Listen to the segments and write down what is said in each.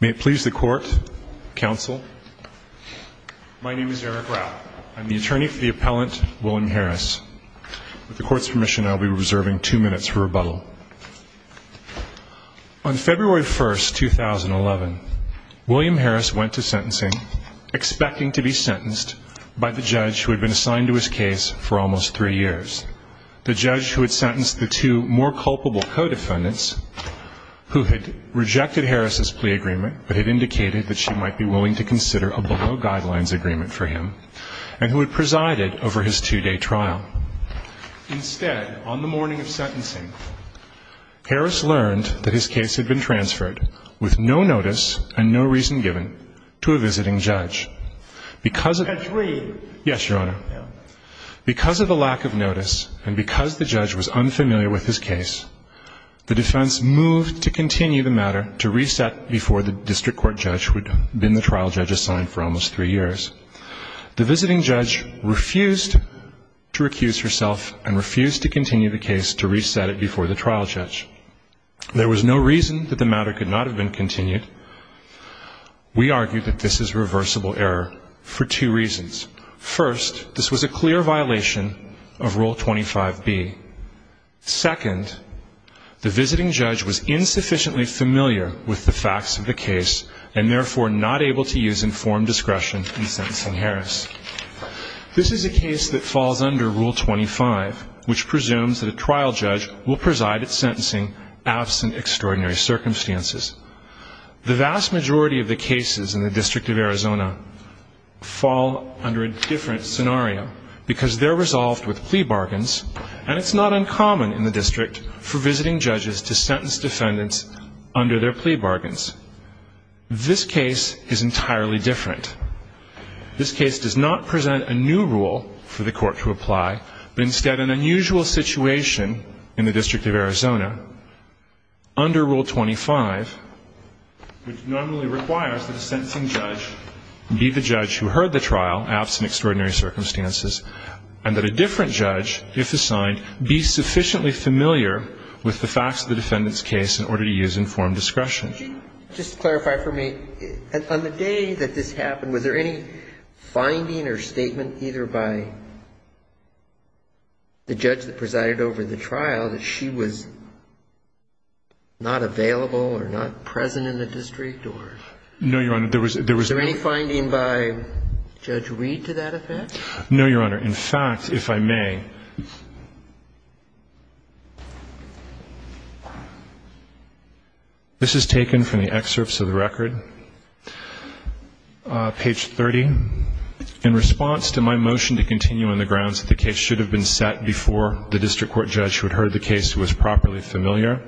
May it please the court, counsel. My name is Eric Rapp. I'm the attorney for the appellant William Harris. With the court's permission, I'll be reserving two minutes for rebuttal. On February 1st, 2011, William Harris went to sentencing, expecting to be sentenced by the judge who had been assigned to his case for almost three years. The judge who had sentenced the two more culpable co-defendants, who had rejected Harris's plea agreement but had indicated that she might be willing to consider a below-guidelines agreement for him, and who had presided over his two-day trial. Instead, on the morning of sentencing, Harris learned that his case had been transferred with no notice and no reason given to a visiting judge. Because of the lack of notice and because the judge was unfamiliar with his case, the defense moved to continue the matter to reset before the district court judge, who had been the trial judge assigned for almost three years. The visiting judge refused to recuse herself and refused to continue the case to reset it before the trial judge. There was no reason that the matter could not have been continued. We argue that this is reversible error for two reasons. First, this was a clear violation of Rule 25b. Second, the visiting judge was insufficiently familiar with the facts of the case and therefore not able to use informed discretion in sentencing Harris. This is a case that falls under Rule 25, which presumes that a trial judge will preside at sentencing absent extraordinary circumstances. The vast majority of the cases in the District of Arizona fall under a different scenario because they're resolved with plea bargains and it's not uncommon in the district for visiting judges to sentence defendants under their plea bargains. This case is entirely different. This case does not present a new rule for the court to apply, but instead an unusual situation in the District of Arizona under Rule 25, which normally requires that a sentencing judge be the judge who presided over the trial, absent extraordinary circumstances, and that a different judge, if assigned, be sufficiently familiar with the facts of the defendant's case in order to use informed discretion. Just clarify for me, on the day that this happened, was there any finding or statement either by the judge that presided over the trial that she was not available or not available? Judge Reed, to that effect? No, Your Honor. In fact, if I may, this is taken from the excerpts of the record, page 30. In response to my motion to continue on the grounds that the case should have been set before the district court judge who had heard the case was properly familiar,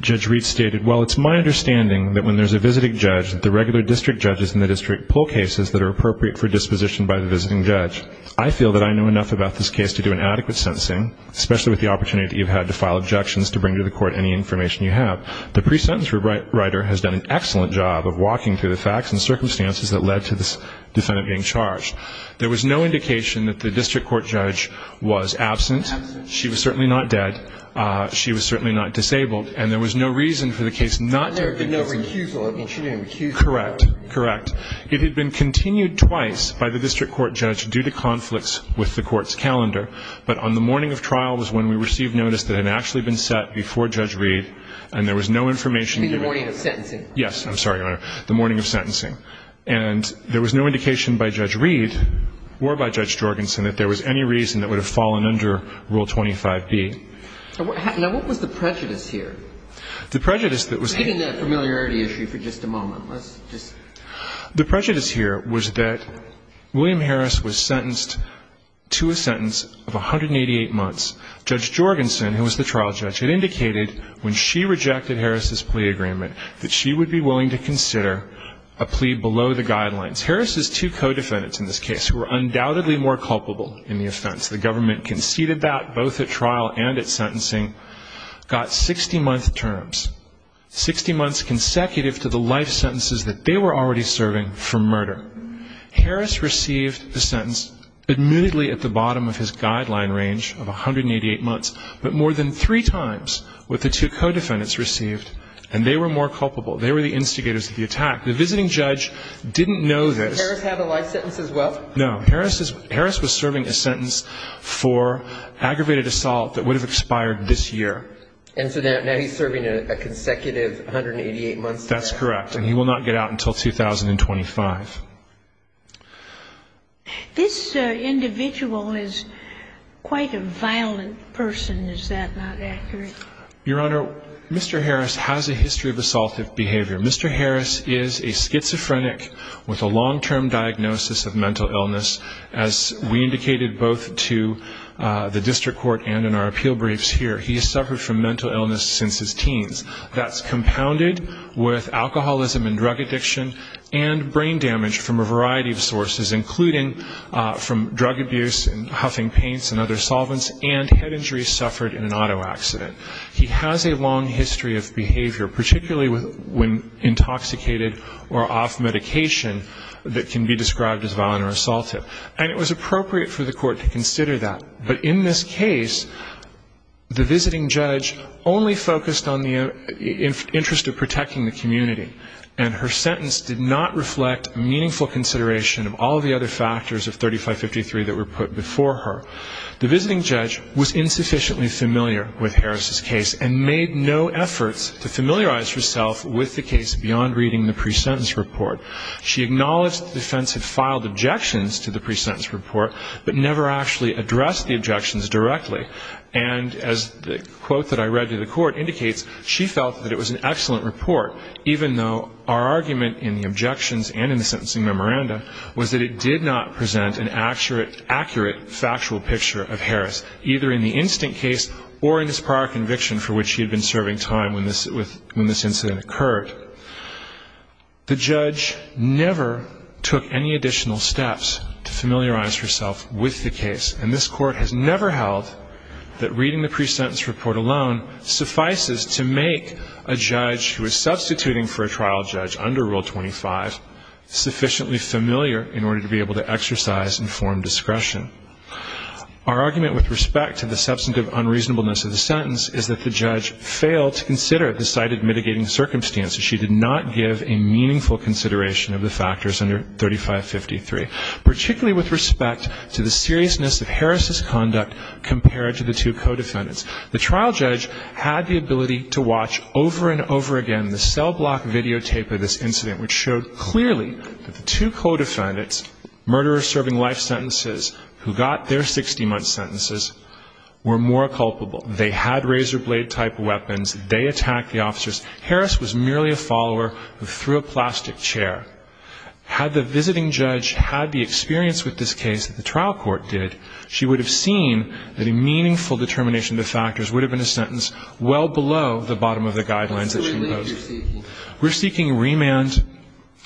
Judge Reed stated, well, it's my understanding that when there's a visiting judge, the regular district judges in the district pull cases that are appropriate for disposition by the visiting judge. I feel that I know enough about this case to do an adequate sentencing, especially with the opportunity you've had to file objections to bring to the court any information you have. The pre-sentence writer has done an excellent job of walking through the facts and circumstances that led to this defendant being charged. There was no indication that the district court judge was absent. She was certainly not dead. She was certainly not disabled. And there was no reason for the case not to be sent. And her accusal, I mean, she didn't recuse herself. Correct. Correct. It had been continued twice by the district court judge due to conflicts with the court's calendar, but on the morning of trial was when we received notice that it had actually been set before Judge Reed, and there was no information given. The morning of sentencing? Yes. I'm sorry, Your Honor. The morning of sentencing. And there was no indication by Judge Reed or by Judge Jorgensen that there was any reason that would have fallen under Rule 25B. Now, what was the prejudice here? The prejudice that was We're taking that familiarity issue for just a moment. Let's just The prejudice here was that William Harris was sentenced to a sentence of 188 months. Judge Jorgensen, who was the trial judge, had indicated when she rejected Harris's plea agreement that she would be willing to consider a plea below the guidelines. Harris's two co-defendants in this case, who were undoubtedly more culpable in the offense, the government conceded that both at trial and at sentencing, got 60-month terms, 60 months consecutive to the life sentences that they were already serving for murder. Harris received the sentence admittedly at the bottom of his guideline range of 188 months, but more than three times what the two co-defendants received, and they were more culpable. They were the instigators of the attack. The visiting judge didn't know this Did Harris have a life sentence as well? No. Harris was serving a sentence for aggravated assault that would have expired this year. And so now he's serving a consecutive 188 months? That's correct. And he will not get out until 2025. This individual is quite a violent person. Is that not accurate? Your Honor, Mr. Harris has a history of assaultive behavior. Mr. Harris is a schizophrenic with a long-term diagnosis of mental illness. As we indicated both to the district court and in our appeal briefs here, he has suffered from mental illness since his teens. That's compounded with alcoholism and drug addiction and brain damage from a variety of sources, including from drug abuse and huffing paints and other solvents and head injuries suffered in an auto accident. He has a long history of behavior, particularly when intoxicated or off medication that can be described as violent or assaultive. And it was appropriate for the court to consider that. But in this case, the visiting judge only focused on the interest of protecting the community. And her sentence did not reflect meaningful consideration of all the other factors of 3553 that were put before her. The visiting judge was insufficiently familiar with Harris's case and made no efforts to familiarize herself with the case beyond reading the pre-sentence report. She acknowledged the defense had filed objections to the pre-sentence report, but never actually addressed the objections directly. And as the quote that I read to the court indicates, she felt that it was an excellent report, even though our argument in the objections and in the sentencing memoranda was that it did not present an accurate factual picture of Harris, either in the instant case or in this prior conviction for which she had been serving time when this incident occurred. The judge never took any additional steps to familiarize herself with the case. And this court has never held that reading the pre-sentence report alone suffices to make a judge who is substituting for a trial judge under Rule 25 sufficiently familiar in order to be able to exercise informed discretion. Our argument with respect to the substantive unreasonableness of the sentence is that the judge failed to consider the cited mitigating circumstances. She did not give a meaningful consideration of the factors under 3553, particularly with respect to the seriousness of Harris's conduct compared to the two co-defendants. The trial judge had the ability to watch over and over again the cell block videotape of this incident, which showed clearly that the two co-defendants, murderers serving life sentences who got their 60-month sentences, were more culpable. They had razor blade type weapons. They attacked the officers. Harris was merely a follower who threw a plastic chair. Had the visiting judge had the experience with this case that the trial court did, she would have seen that a meaningful determination of the factors would have been a sentence well below the bottom of the guidelines that she posed. We're seeking remand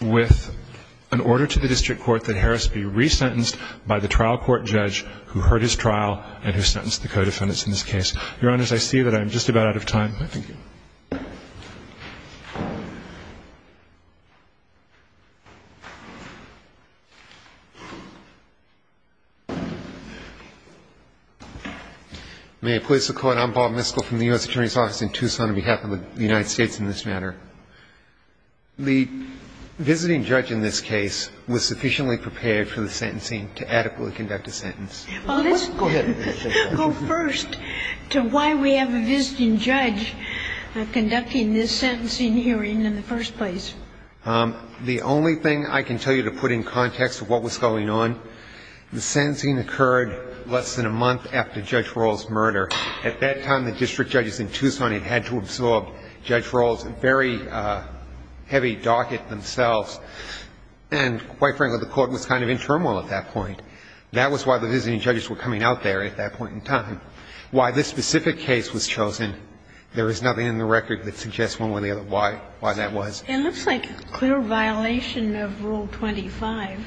with an order to the district court that Harris be resentenced by the trial court judge who heard his trial and who sentenced the co-defendants in this And that's all I have at this time. Thank you. Miscall. I'm Bob Miscall from the U.S. Attorney's office in Tucson on behalf of the United States in this matter. The visiting judge in this case was sufficiently prepared for the sentencing to adequately conduct a sentence. Go ahead. Well, first, to why we have a visiting judge conducting this sentencing hearing in the first place. The only thing I can tell you to put in context of what was going on, the sentencing occurred less than a month after Judge Rawls' murder. At that time, the district judges in Tucson had had to absorb Judge Rawls' very heavy docket themselves. And quite frankly, the court was kind of in turmoil at that point. That was why the visiting judges were coming out there at that point in time. Why this specific case was chosen, there is nothing in the record that suggests one way or the other why that was. It looks like a clear violation of Rule 25.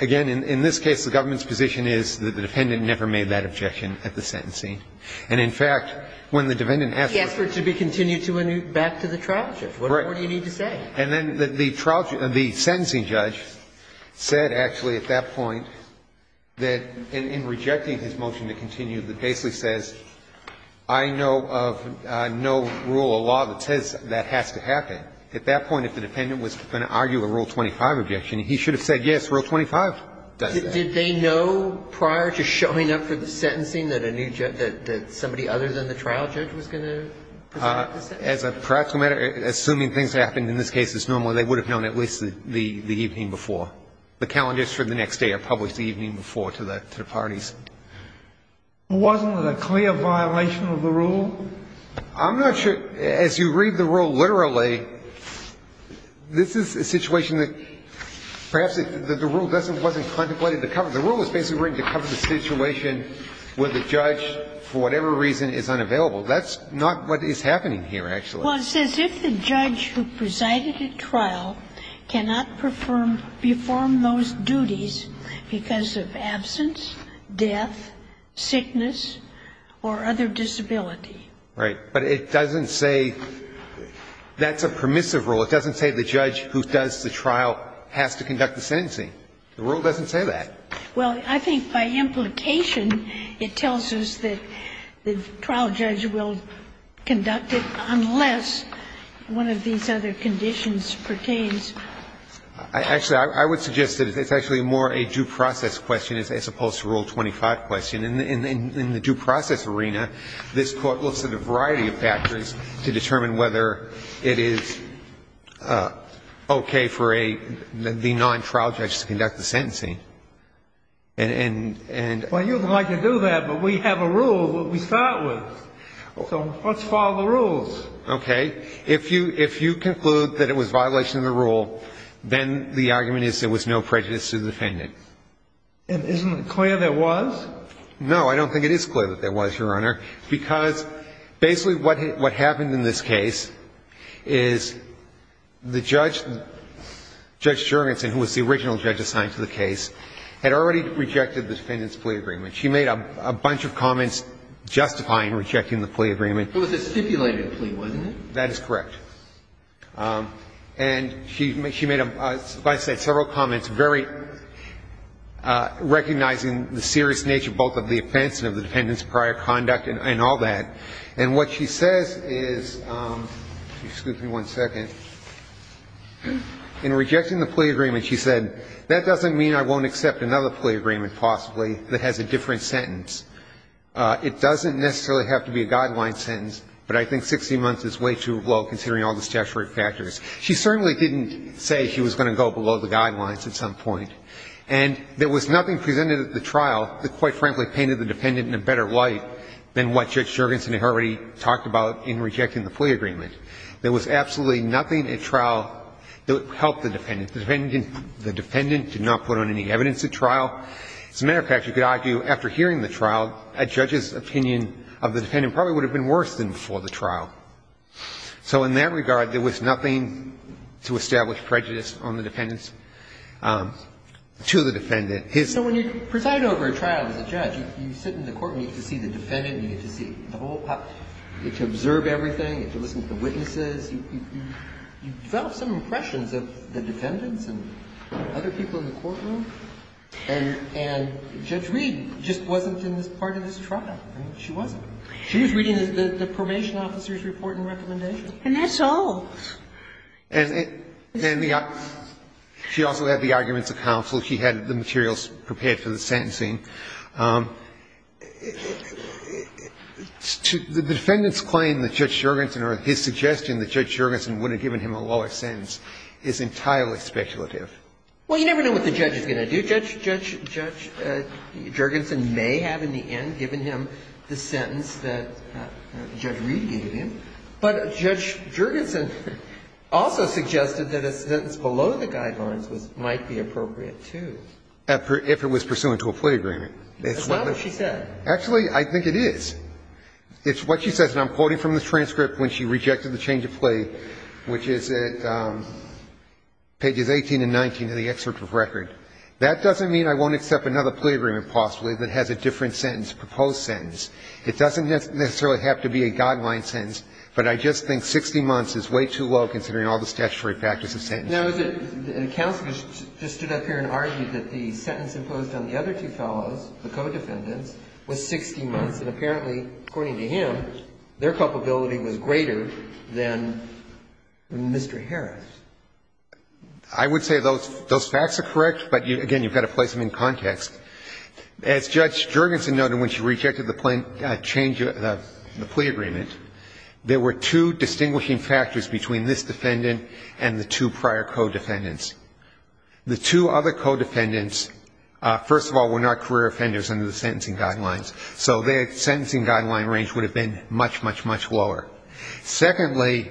Again, in this case, the government's position is that the defendant never made that objection at the sentencing. And in fact, when the defendant asked for it to be continued back to the trial judge, what more do you need to say? And then the trial judge, the sentencing judge, said actually at that point that in rejecting his motion to continue, that basically says, I know of no rule of law that says that has to happen. At that point, if the defendant was going to argue a Rule 25 objection, he should have said, yes, Rule 25 does that. Did they know prior to showing up for the sentencing that a new judge, that somebody other than the trial judge was going to present the sentencing? As a practical matter, assuming things happened in this case as normally, they would have known at least the evening before. The calendars for the next day are published the evening before to the parties. Wasn't it a clear violation of the rule? I'm not sure. As you read the rule literally, this is a situation that perhaps the rule wasn't contemplated to cover. The rule is basically written to cover the situation where the judge, for whatever reason, is unavailable. That's not what is happening here, actually. Well, it says if the judge who presided at trial cannot perform those duties because of absence, death, sickness or other disability. Right. But it doesn't say that's a permissive rule. It doesn't say the judge who does the trial has to conduct the sentencing. The rule doesn't say that. Well, I think by implication, it tells us that the trial judge will conduct it unless one of these other conditions pertains. Actually, I would suggest that it's actually more a due process question as opposed to Rule 25 question. In the due process arena, this Court looks at a variety of factors to determine whether it is okay for a non-trial judge to conduct the sentencing. Well, you'd like to do that, but we have a rule that we start with, so let's follow the rules. Okay. If you conclude that it was violation of the rule, then the argument is there was no prejudice to the defendant. And isn't it clear there was? No, I don't think it is clear that there was, Your Honor, because basically what happened in this case is the judge, Judge Jurgensen, who was the original judge assigned to the case, had already rejected the defendant's plea agreement. She made a bunch of comments justifying rejecting the plea agreement. It was a stipulated plea, wasn't it? That is correct. And she made, like I said, several comments very recognizing the serious nature both of the offense and of the defendant's prior conduct and all that. And what she says is, excuse me one second, in rejecting the plea agreement, she said, that doesn't mean I won't accept another plea agreement possibly that has a different sentence. It doesn't necessarily have to be a guideline sentence, but I think 60 months is way too low considering all the statutory factors. She certainly didn't say she was going to go below the guidelines at some point. And there was nothing presented at the trial that, quite frankly, painted the defendant in a better light than what Judge Jurgensen had already talked about in rejecting the plea agreement. There was absolutely nothing at trial that helped the defendant. The defendant did not put on any evidence at trial. As a matter of fact, you could argue after hearing the trial, a judge's opinion of the defendant probably would have been worse than before the trial. So in that regard, there was nothing to establish prejudice on the defendant's to the defendant. His own. So when you preside over a trial as a judge, you sit in the court and you get to see the defendant and you get to see the whole public. You get to observe everything. You get to listen to the witnesses. You develop some impressions of the defendants and other people in the courtroom. And Judge Reed just wasn't in this part of this trial. She wasn't. She was reading the Promotion Officer's report and recommendation. And that's all. And she also had the arguments of counsel. She had the materials prepared for the sentencing. The defendant's claim that Judge Juergensen or his suggestion that Judge Juergensen wouldn't have given him a lower sentence is entirely speculative. Well, you never know what the judge is going to do. Judge Juergensen may have in the end given him the sentence that Judge Reed gave him, but Judge Juergensen also suggested that a sentence below the guidelines might be appropriate, too. If it was pursuant to a plea agreement. That's not what she said. Actually, I think it is. It's what she says, and I'm quoting from the transcript when she rejected the change of plea, which is at pages 18 and 19 of the excerpt of the record. That doesn't mean I won't accept another plea agreement possibly that has a different sentence, a proposed sentence. It doesn't necessarily have to be a guideline sentence, but I just think 60 months is way too low considering all the statutory practice of sentencing. Now, is it the counsel just stood up here and argued that the sentence imposed on the other two fellows, the co-defendants, was 60 months, and apparently, according to him, their culpability was greater than Mr. Harris? I would say those facts are correct, but, again, you've got to place them in context. As Judge Juergensen noted when she rejected the change of the plea agreement, there were two distinguishing factors between this defendant and the two prior co-defendants. The two other co-defendants, first of all, were not career offenders under the sentencing guidelines, so their sentencing guideline range would have been much, much, much lower. Secondly,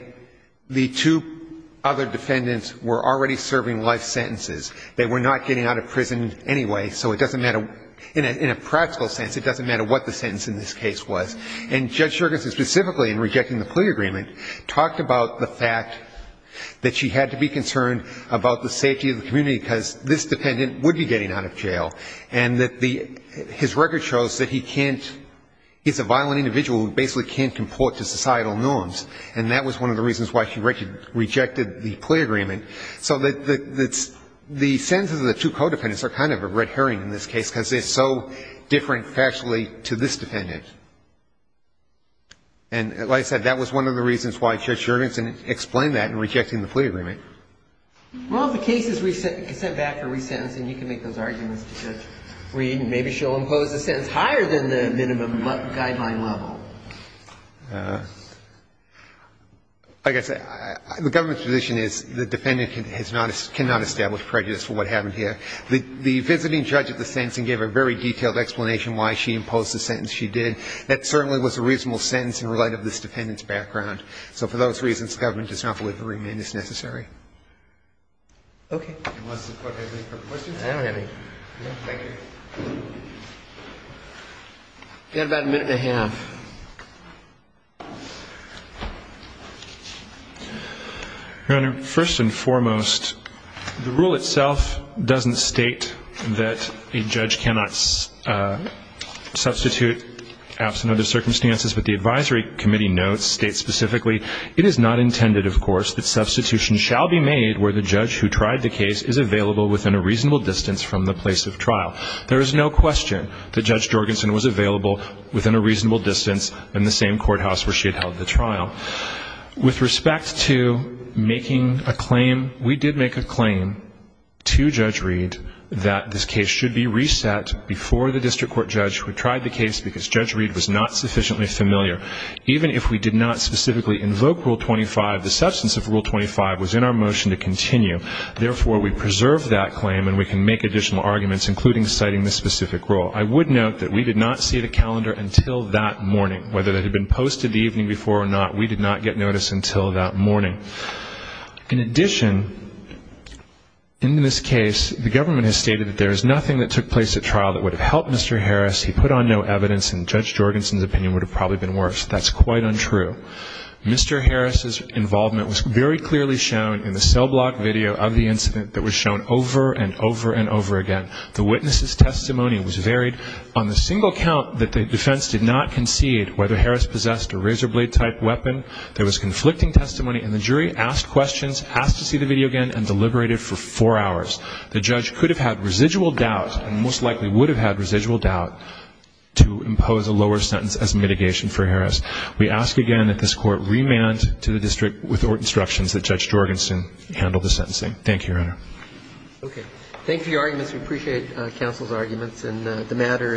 the two other defendants were already serving life sentences. They were not getting out of prison anyway, so it doesn't matter, in a practical sense, it doesn't matter what the sentence in this case was. And Judge Juergensen, specifically in rejecting the plea agreement, talked about the fact that she had to be concerned about the safety of the community because this dependent would be getting out of jail, and that his record shows that he can't, he's a violent individual who basically can't comport to societal norms, and that was one of the reasons why she rejected the plea agreement. So the sentences of the two co-defendants are kind of a red herring in this case, because they're so different factually to this defendant. And like I said, that was one of the reasons why Judge Juergensen explained that in rejecting the plea agreement. Well, if the case is sent back for resentencing, you can make those arguments, Judge Reed, and maybe she'll impose the sentence higher than the minimum guideline level. Like I said, the government's position is the defendant cannot establish prejudice for what happened here. The visiting judge at the sentencing gave a very detailed explanation why she imposed the sentence she did. That certainly was a reasonable sentence in light of this defendant's background. So for those reasons, government does not believe a remand is necessary. Okay. Unless the court has any further questions. I don't have any. Okay, thank you. We've got about a minute and a half. Your Honor, first and foremost, the rule itself doesn't state that a judge cannot substitute, absent other circumstances, but the advisory committee notes, states specifically, it is not intended, of course, that substitution shall be made where the judge who tried the case is available within a reasonable distance from the place of trial. There is no question that Judge Juergensen was available within a reasonable distance in the same courthouse where she had held the trial. With respect to making a claim, we did make a claim to Judge Reed that this case should be reset before the district court judge who had tried the case because Judge Reed was not sufficiently familiar. Even if we did not specifically invoke Rule 25, the substance of Rule 25 was in our motion to continue. Therefore, we preserved that claim and we can make additional arguments, including citing this specific rule. I would note that we did not see the calendar until that morning. Whether that had been posted the evening before or not, we did not get notice until that morning. In addition, in this case, the government has stated that there is nothing that took place at trial that would have helped Mr. Harris. He put on no evidence and Judge Juergensen's opinion would have probably been worse. That's quite untrue. Mr. Harris's involvement was very clearly shown in the cell block video of the incident that was shown over and over and over again. The witness's testimony was varied on the single count that the defense did not concede whether Harris possessed a razor blade type weapon. There was conflicting testimony and the jury asked questions, asked to see the video again and deliberated for four hours. The judge could have had residual doubt and most likely would have had residual doubt to impose a lower sentence as mitigation for Harris. We ask again that this Court remand to the district with instructions that Judge Juergensen handle the sentencing. Thank you, Your Honor. Okay. Thank you for your arguments. We appreciate counsel's arguments and the matter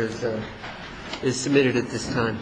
is submitted at this time.